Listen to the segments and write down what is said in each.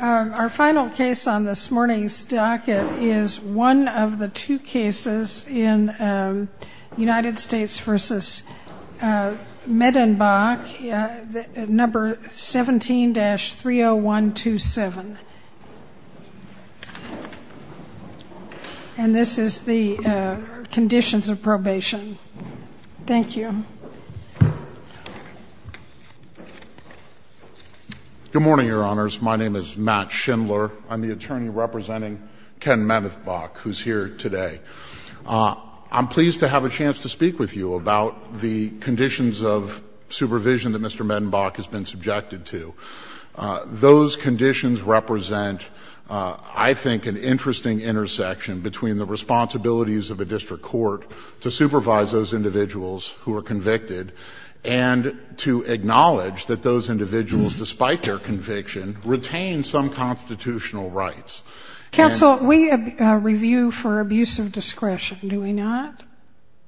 Our final case on this morning's docket is one of the two cases in United States v. Medenbach, number 17-30127. And this is the conditions of probation. Thank you. Good morning, Your Honors. My name is Matt Schindler. I'm the attorney representing Ken Medenbach, who's here today. I'm pleased to have a chance to speak with you about the conditions of supervision that Mr. Medenbach has been subjected to. Those conditions represent, I think, an interesting intersection between the responsibilities of a district court to supervise those individuals who are convicted and to acknowledge that those individuals, despite their conviction, retain some constitutional rights. Counsel, we review for abuse of discretion, do we not?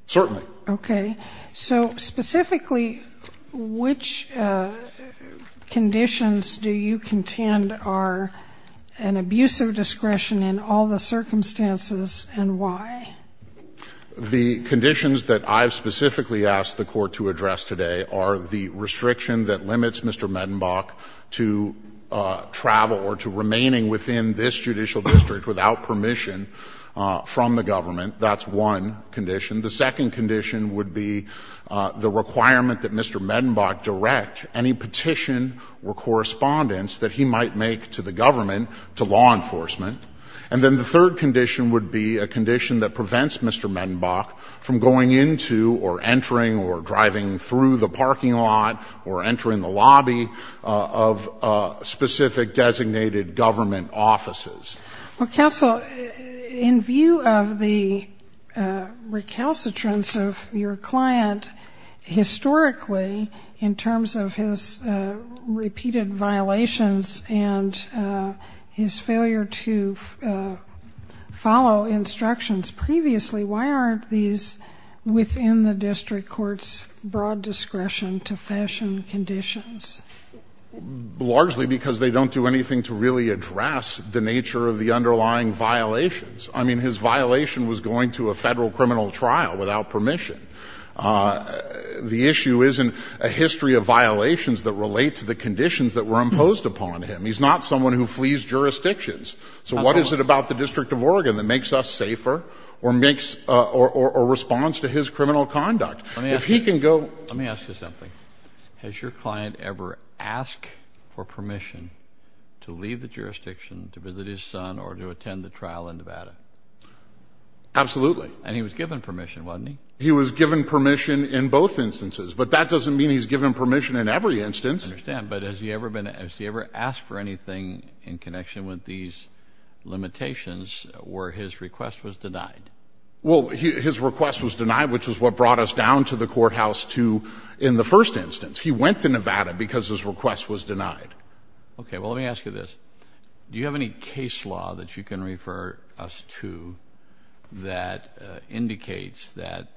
Certainly. Okay. So specifically, which conditions do you contend are an abuse of discretion in all the circumstances, and why? The conditions that I've specifically asked the Court to address today are the restriction that limits Mr. Medenbach to travel or to remaining within this judicial district without permission from the government. That's one condition. The second condition would be the requirement that Mr. Medenbach direct any petition or correspondence that he might make to the government, to law enforcement. And then the third condition would be a condition that prevents Mr. Medenbach from going into or entering or driving through the parking lot or entering the lobby of specific designated government offices. Well, Counsel, in view of the recalcitrance of your client, historically, in terms of his repeated violations and his failure to follow instructions previously, why aren't these within the district court's broad discretion to fashion conditions? Largely because they don't do anything to really address the nature of the underlying violations. I mean, his violation was going to a Federal criminal trial without permission. The issue isn't a history of violations that relate to the conditions that were imposed upon him. He's not someone who flees jurisdictions. So what is it about the District of Oregon that makes us safer or makes or responds to his criminal conduct? If he can go ---- Let me ask you something. Has your client ever asked for permission to leave the jurisdiction to visit his son or to attend the trial in Nevada? Absolutely. And he was given permission, wasn't he? He was given permission in both instances. But that doesn't mean he's given permission in every instance. I understand. But has he ever asked for anything in connection with these limitations where his request was denied? Well, his request was denied, which is what brought us down to the courthouse to ---- in the first instance. He went to Nevada because his request was denied. Okay. Well, let me ask you this. Do you have any case law that you can refer us to that indicates that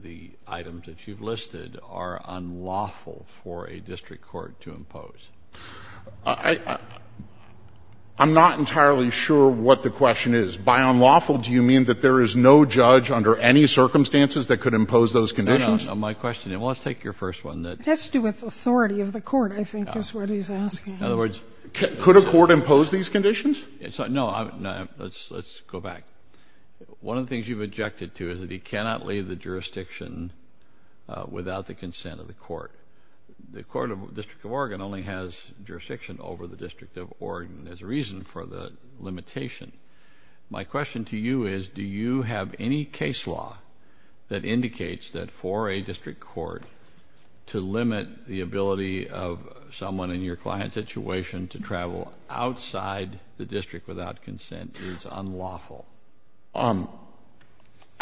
the items that you've listed are unlawful for a district court to impose? I'm not entirely sure what the question is. By unlawful, do you mean that there is no judge under any circumstances that could impose those conditions? No, no. My question is ---- Well, let's take your first one. It has to do with authority of the court, I think, is what he's asking. In other words ---- Could a court impose these conditions? No. Let's go back. One of the things you've objected to is that he cannot leave the jurisdiction without the consent of the court. The court of the District of Oregon only has jurisdiction over the District of Oregon. There's a reason for the limitation. My question to you is, do you have any case law that indicates that for a district court to limit the ability of someone in your client situation to travel outside the district without consent is unlawful?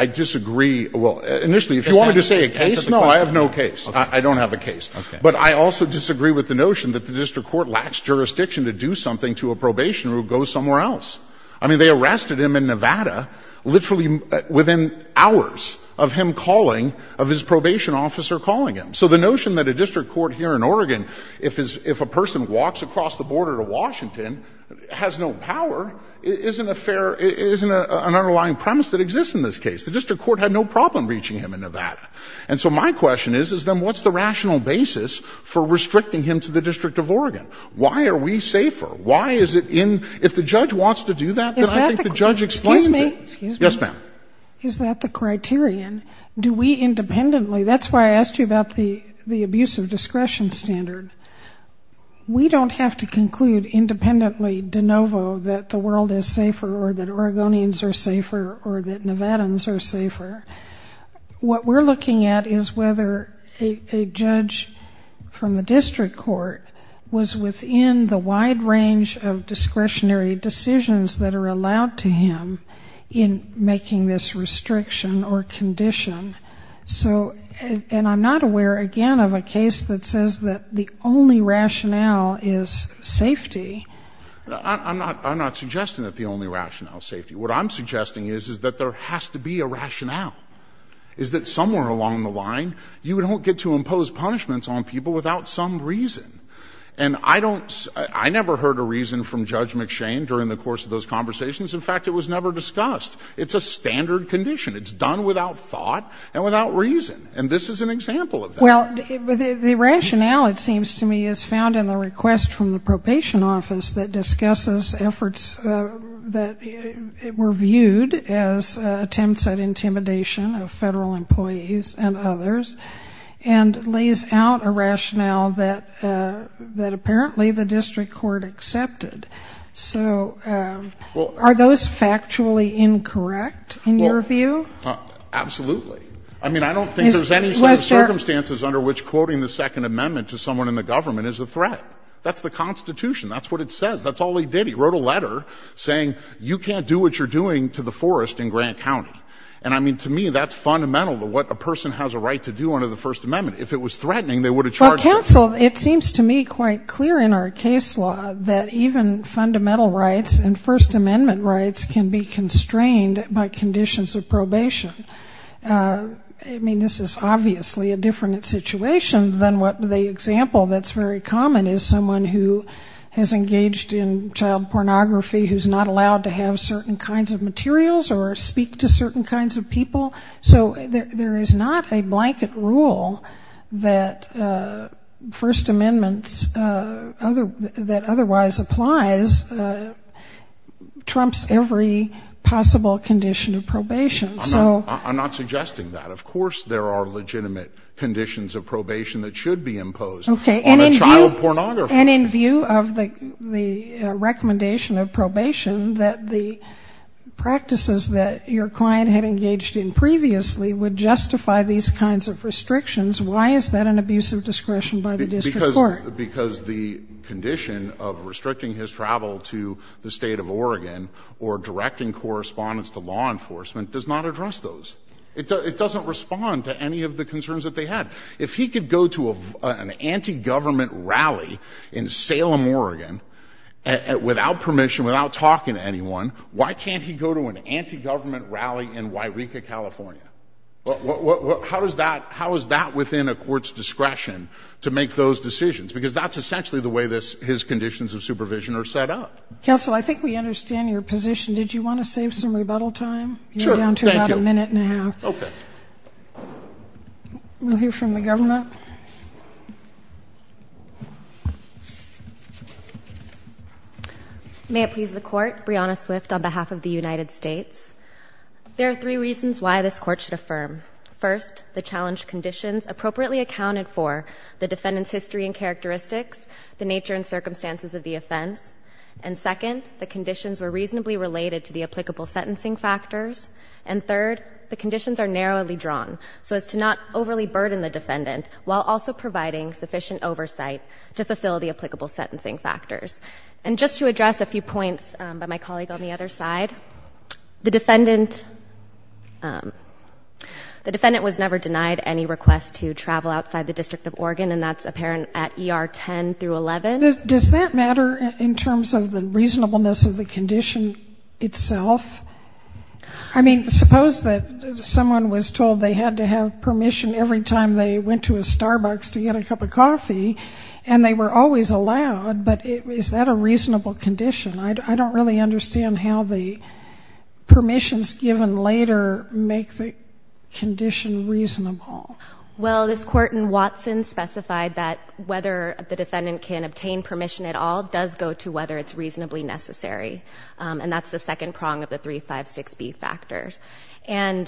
I disagree. Well, initially, if you wanted to say a case, no, I have no case. I don't have a case. Okay. But I also disagree with the notion that the district court lacks jurisdiction to do something to a probationer who goes somewhere else. I mean, they arrested him in Nevada literally within hours of him calling, of his probation officer calling him. So the notion that a district court here in Oregon, if a person walks across the border to Washington, has no power, isn't a fair ---- isn't an underlying premise that exists in this case. The district court had no problem reaching him in Nevada. And so my question is, is then what's the rational basis for restricting him to the District of Oregon? Why are we safer? Why is it in ---- if the judge wants to do that, then I think the judge explains it. Excuse me. Yes, ma'am. Is that the criterion? Do we independently ---- that's why I asked you about the abuse of discretion standard. We don't have to conclude independently de novo that the world is safer or that Oregonians are safer or that Nevadans are safer. What we're looking at is whether a judge from the district court was within the wide range of discretionary decisions that are allowed to him in making this restriction or condition. So ---- and I'm not aware, again, of a case that says that the only rationale is safety. I'm not suggesting that the only rationale is safety. What I'm suggesting is that there has to be a rationale, is that somewhere along the line, you don't get to impose punishments on people without some reason. And I don't ---- I never heard a reason from Judge McShane during the course of those conversations. In fact, it was never discussed. It's a standard condition. It's done without thought and without reason. And this is an example of that. Well, the rationale, it seems to me, is found in the request from the probation office that discusses efforts that were viewed as attempts at intimidation of Federal employees and others, and lays out a rationale that apparently the district court accepted. So are those factually incorrect in your view? Absolutely. I mean, I don't think there's any circumstances under which quoting the Second Amendment to someone in the government is a threat. That's the Constitution. That's what it says. That's all he did. He wrote a letter saying, you can't do what you're doing to the forest in Grant County. And, I mean, to me, that's fundamental to what a person has a right to do under the First Amendment. If it was threatening, they would have charged him. Well, counsel, it seems to me quite clear in our case law that even fundamental rights and First Amendment rights can be constrained by conditions of probation. I mean, this is obviously a different situation than what the example that's very common is someone who has engaged in child pornography, who's not allowed to have certain kinds of materials or speak to certain kinds of people. So there is not a blanket rule that First Amendment that otherwise applies trumps every possible condition of probation. I'm not suggesting that. Of course there are legitimate conditions of probation that should be imposed on a child pornographer. Okay. And in view of the recommendation of probation that the practices that your client had engaged in previously would justify these kinds of restrictions, why is that an abuse of discretion by the district court? Because the condition of restricting his travel to the State of Oregon or directing correspondence to law enforcement does not address those. It doesn't respond to any of the concerns that they had. If he could go to an anti-government rally in Salem, Oregon, without permission, without talking to anyone, why can't he go to an anti-government rally in Huayreka, California? How is that within a court's discretion to make those decisions? Because that's essentially the way his conditions of supervision are set up. Counsel, I think we understand your position. Did you want to save some rebuttal time? Sure. Thank you. You're down to about a minute and a half. Okay. We'll hear from the government. May it please the Court. Brianna Swift on behalf of the United States. There are three reasons why this Court should affirm. First, the challenge conditions appropriately accounted for the defendant's history and characteristics, the nature and circumstances of the offense. And second, the conditions were reasonably related to the applicable sentencing factors. And third, the conditions are narrowly drawn so as to not overly burden the defendant while also providing sufficient oversight to fulfill the applicable sentencing factors. And just to address a few points by my colleague on the other side, the defendant was never denied any request to travel outside the District of Oregon, and that's apparent at ER 10 through 11. Does that matter in terms of the reasonableness of the condition itself? I mean, suppose that someone was told they had to have permission every time they went to a Starbucks to get a cup of coffee, and they were always allowed, but is that a reasonable condition? I don't really understand how the permissions given later make the condition reasonable. Well, this Court in Watson specified that whether the defendant can obtain permission at all does go to whether it's reasonably necessary. And that's the second prong of the 356B factors. And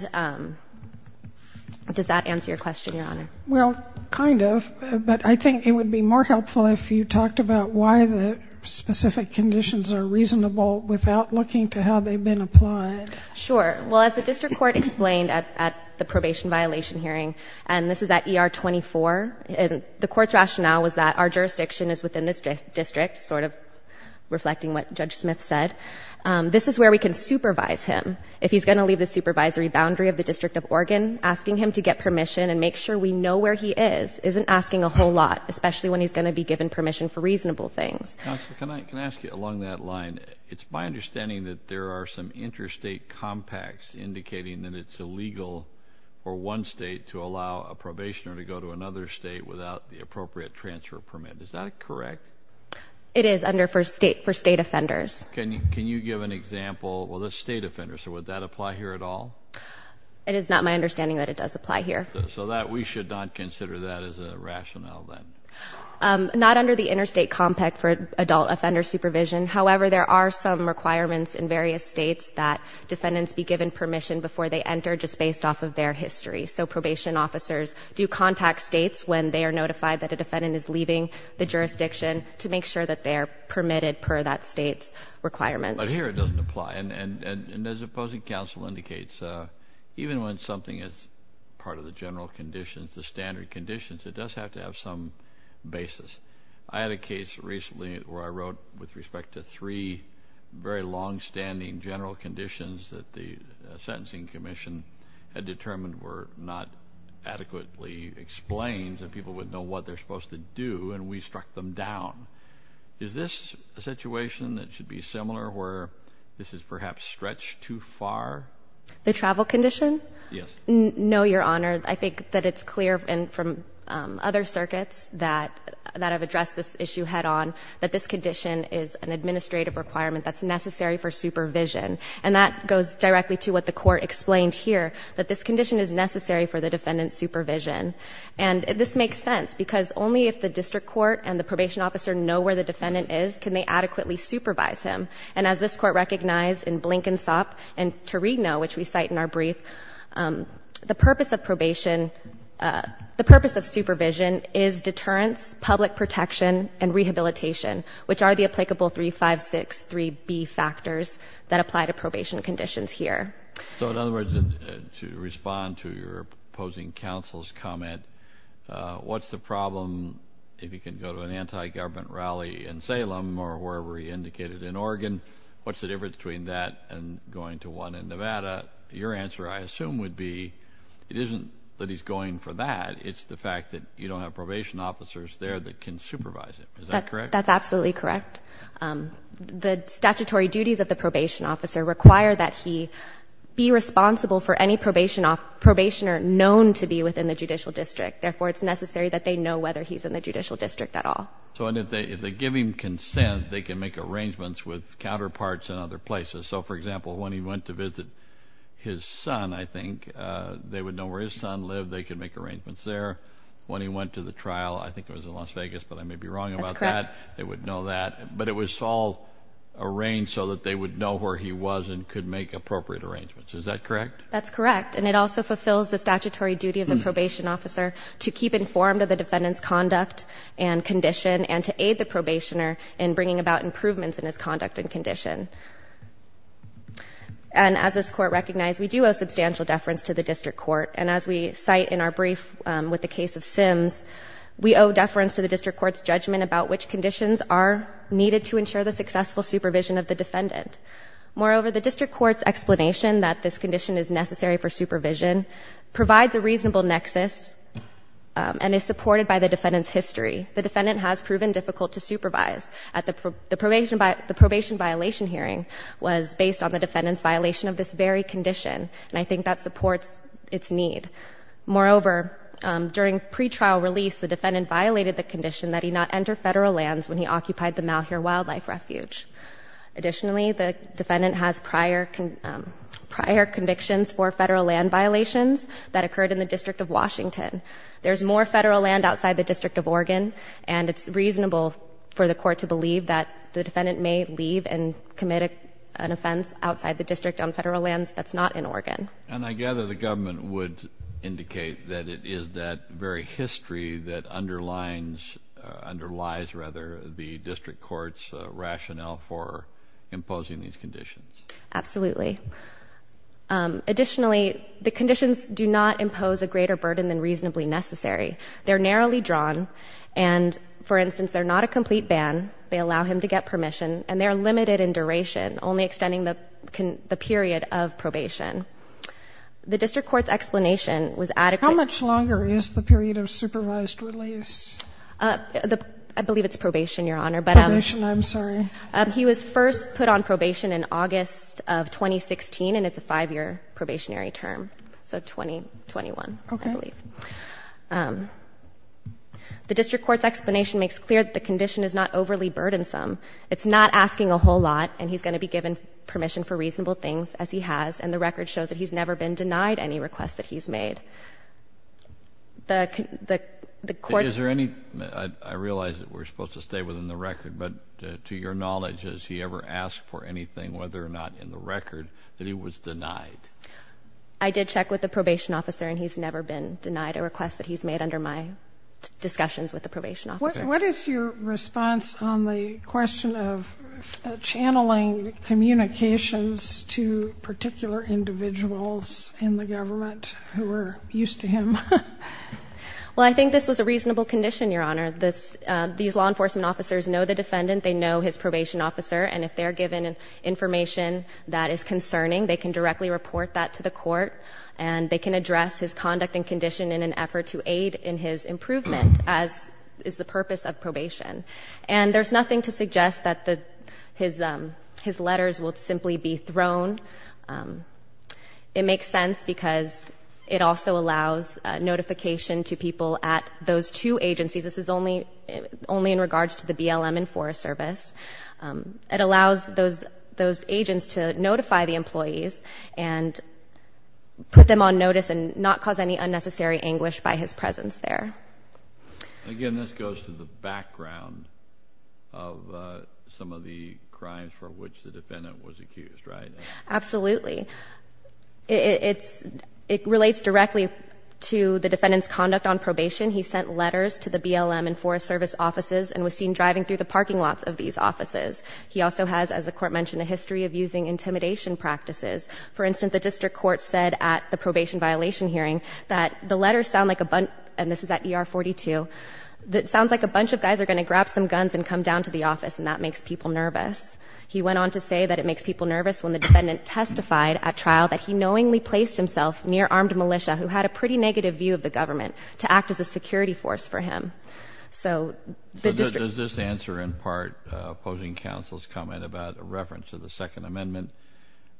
does that answer your question, Your Honor? Well, kind of. But I think it would be more helpful if you talked about why the specific conditions are reasonable without looking to how they've been applied. Sure. Well, as the district court explained at the probation violation hearing, and this is at ER 24, the court's rationale was that our jurisdiction is within this is where we can supervise him. If he's going to leave the supervisory boundary of the District of Oregon, asking him to get permission and make sure we know where he is isn't asking a whole lot, especially when he's going to be given permission for reasonable things. Counsel, can I ask you along that line? It's my understanding that there are some interstate compacts indicating that it's illegal for one state to allow a probationer to go to another state without the appropriate transfer permit. Is that correct? It is for state offenders. Can you give an example of a state offender? So would that apply here at all? It is not my understanding that it does apply here. So we should not consider that as a rationale then? Not under the interstate compact for adult offender supervision. However, there are some requirements in various states that defendants be given permission before they enter just based off of their history. So probation officers do contact states when they are notified that a defendant is leaving the jurisdiction to make sure that they are permitted per that state's requirements. But here it doesn't apply. And as opposing counsel indicates, even when something is part of the general conditions, the standard conditions, it does have to have some basis. I had a case recently where I wrote with respect to three very longstanding general conditions that the sentencing commission had determined were not adequately explained that people would know what they're supposed to do, and we struck them down. Is this a situation that should be similar where this is perhaps stretched too far? The travel condition? Yes. No, Your Honor. I think that it's clear from other circuits that have addressed this issue head-on that this condition is an administrative requirement that's necessary for supervision. And that goes directly to what the Court explained here, that this condition is necessary for the defendant's supervision. And this makes sense because only if the district court and the probation officer know where the defendant is can they adequately supervise him. And as this Court recognized in Blankensop and Tarigno, which we cite in our brief, the purpose of probation – the purpose of supervision is deterrence, public protection, and rehabilitation, which are the applicable 356.3b factors that apply to probation conditions here. So in other words, to respond to your opposing counsel's comment, what's the problem if he can go to an anti-government rally in Salem or wherever he indicated in Oregon? What's the difference between that and going to one in Nevada? Your answer, I assume, would be it isn't that he's going for that. It's the fact that you don't have probation officers there that can supervise him. Is that correct? That's absolutely correct. The statutory duties of the probation officer require that he be responsible for any probationer known to be within the judicial district. Therefore, it's necessary that they know whether he's in the judicial district at all. So if they give him consent, they can make arrangements with counterparts in other places. So, for example, when he went to visit his son, I think, they would know where his son lived. They could make arrangements there. When he went to the trial, I think it was in Las Vegas, but I may be wrong about that. That's correct. They would know that. But it was all arranged so that they would know where he was and could make appropriate arrangements. Is that correct? That's correct. And it also fulfills the statutory duty of the probation officer to keep informed of the defendant's conduct and condition and to aid the probationer in bringing about improvements in his conduct and condition. And as this Court recognized, we do owe substantial deference to the district court. And as we cite in our brief with the case of Sims, we owe deference to the district court's judgment about which conditions are needed to ensure the successful supervision of the defendant. Moreover, the district court's explanation that this condition is necessary for supervision provides a reasonable nexus and is supported by the defendant's history. The defendant has proven difficult to supervise. The probation violation hearing was based on the defendant's violation of this very condition, and I think that supports its need. Moreover, during pretrial release, the defendant violated the condition that he not enter Federal lands when he occupied the Malheur Wildlife Refuge. Additionally, the defendant has prior convictions for Federal land violations that occurred in the District of Washington. There's more Federal land outside the District of Oregon, and it's reasonable for the Court to believe that the defendant may leave and commit an offense outside the District on Federal lands that's not in Oregon. And I gather the government would indicate that it is that very history that underlies, rather, the district court's rationale for imposing these conditions. Absolutely. Additionally, the conditions do not impose a greater burden than reasonably necessary. They're narrowly drawn, and, for instance, they're not a complete ban. They allow him to get permission, and they're limited in duration, only extending the period of probation. The district court's explanation was adequate. How much longer is the period of supervised release? I believe it's probation, Your Honor. Probation? I'm sorry. He was first put on probation in August of 2016, and it's a 5-year probationary term, so 2021, I believe. Okay. The district court's explanation makes clear that the condition is not overly burdensome. It's not asking a whole lot, and he's going to be given permission for reasonable things, as he has, and the record shows that he's never been denied any requests that he's made. I realize that we're supposed to stay within the record, but to your knowledge, has he ever asked for anything, whether or not in the record, that he was denied? I did check with the probation officer, and he's never been denied a request that he's made under my discussions with the probation officer. What is your response on the question of channeling communications to particular individuals in the government who are used to him? Well, I think this was a reasonable condition, Your Honor. These law enforcement officers know the defendant. They know his probation officer, and if they're given information that is concerning, they can directly report that to the court, and they can address his conduct and condition in an effort to aid in his improvement, as is the purpose of probation. And there's nothing to suggest that his letters will simply be thrown. It makes sense because it also allows notification to people at those two agencies. This is only in regards to the BLM and Forest Service. It allows those agents to notify the employees and put them on notice and not cause any unnecessary anguish by his presence there. Again, this goes to the background of some of the crimes for which the defendant was accused, right? Absolutely. It relates directly to the defendant's conduct on probation. He sent letters to the BLM and Forest Service offices and was seen driving through the parking lots of these offices. He also has, as the Court mentioned, a history of using intimidation practices. For instance, the district court said at the probation violation hearing that the letters sound like a bunch, and this is at ER 42, that it sounds like a bunch of guys are going to grab some guns and come down to the office, and that makes people nervous. He went on to say that it makes people nervous when the defendant testified at trial that he knowingly placed himself near armed militia, who had a pretty negative view of the government, to act as a security force for him. So the district... So does this answer in part opposing counsel's comment about a reference to the Second Amendment,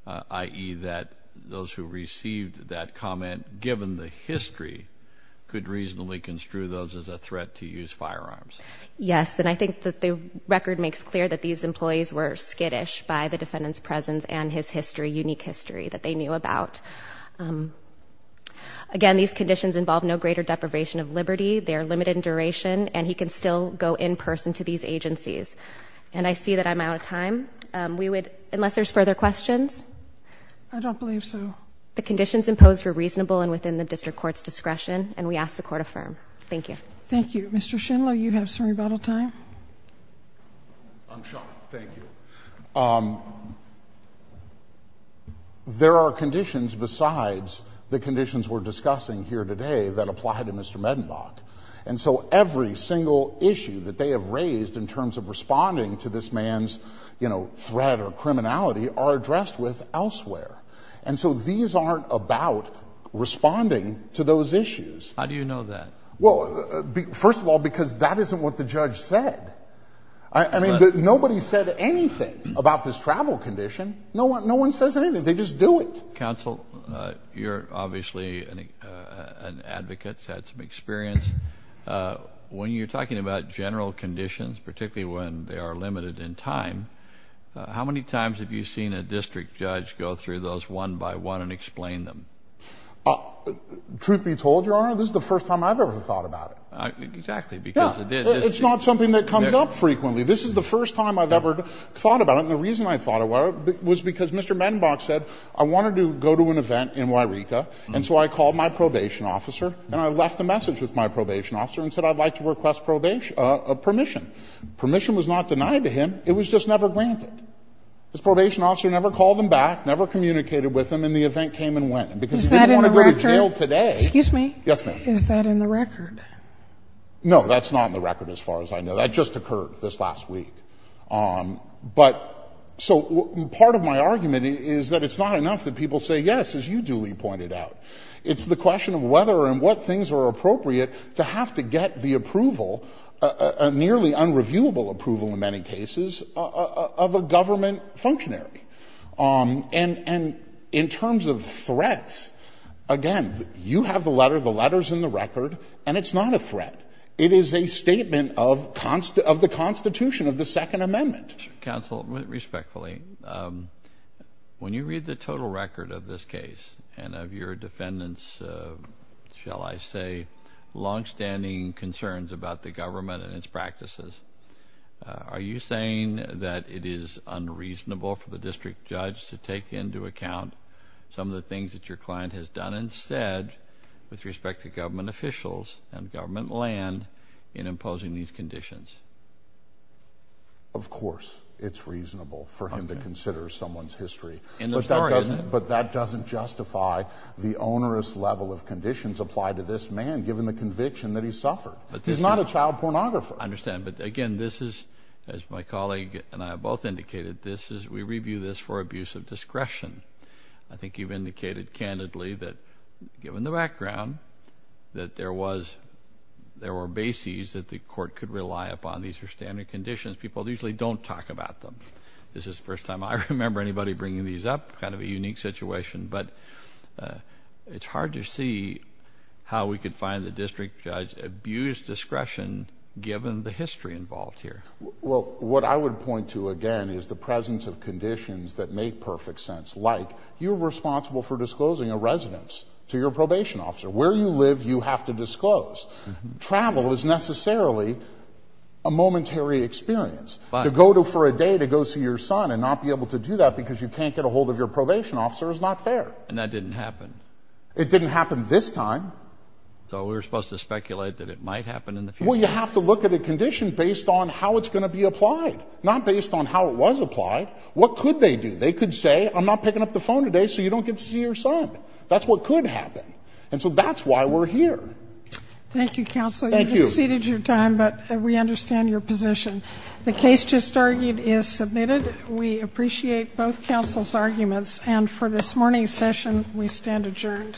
i.e., that those who received that comment, given the defendant's history, could reasonably construe those as a threat to use firearms? Yes. And I think that the record makes clear that these employees were skittish by the defendant's presence and his history, unique history, that they knew about. Again, these conditions involve no greater deprivation of liberty. They are limited in duration, and he can still go in person to these agencies. And I see that I'm out of time. Unless there's further questions? I don't believe so. The conditions imposed were reasonable and within the district court's discretion, and we ask the Court affirm. Thank you. Thank you. Mr. Schindler, you have some rebuttal time. I'm shocked. Thank you. There are conditions besides the conditions we're discussing here today that apply to Mr. Medenbach. And so every single issue that they have raised in terms of responding to this man's, you know, threat or criminality are addressed with elsewhere. And so these aren't about responding to those issues. How do you know that? Well, first of all, because that isn't what the judge said. I mean, nobody said anything about this travel condition. No one says anything. They just do it. Counsel, you're obviously an advocate, had some experience. When you're talking about general conditions, particularly when they are limited in time, how many times have you seen a district judge go through those one by one and explain them? Truth be told, Your Honor, this is the first time I've ever thought about it. Exactly, because it is. It's not something that comes up frequently. This is the first time I've ever thought about it. And the reason I thought about it was because Mr. Medenbach said, I wanted to go to an event in Yreka, and so I called my probation officer, and I left a message with my probation officer and said, I'd like to request permission. Permission was not denied to him. It was just never granted. His probation officer never called him back, never communicated with him, and the event came and went. Is that in the record? Because he didn't want to go to jail today. Excuse me? Yes, ma'am. Is that in the record? No, that's not in the record as far as I know. That just occurred this last week. So part of my argument is that it's not enough that people say yes, as you duly pointed out. It's the question of whether and what things are appropriate to have to get the government functionary. And in terms of threats, again, you have the letter, the letter's in the record, and it's not a threat. It is a statement of the Constitution, of the Second Amendment. Counsel, respectfully, when you read the total record of this case and of your defendant's, shall I say, longstanding concerns about the government and its practices, are you saying that it is unreasonable for the district judge to take into account some of the things that your client has done instead with respect to government officials and government land in imposing these conditions? Of course it's reasonable for him to consider someone's history. But that doesn't justify the onerous level of conditions applied to this man given the conviction that he suffered. He's not a child pornographer. I understand. But, again, this is, as my colleague and I have both indicated, this is we review this for abuse of discretion. I think you've indicated candidly that, given the background, that there were bases that the court could rely upon. These are standard conditions. People usually don't talk about them. This is the first time I remember anybody bringing these up, kind of a unique situation. But it's hard to see how we could find the district judge abused discretion given the history involved here. Well, what I would point to, again, is the presence of conditions that make perfect sense, like you're responsible for disclosing a residence to your probation officer. Where you live, you have to disclose. Travel is necessarily a momentary experience. To go for a day to go see your son and not be able to do that because you can't get a hold of your probation officer is not fair. And that didn't happen. It didn't happen this time. So we were supposed to speculate that it might happen in the future. Well, you have to look at a condition based on how it's going to be applied, not based on how it was applied. What could they do? They could say, I'm not picking up the phone today so you don't get to see your son. That's what could happen. And so that's why we're here. Thank you, counsel. Thank you. You've exceeded your time, but we understand your position. The case just argued is submitted. We appreciate both counsel's arguments. And for this morning's session, we stand adjourned.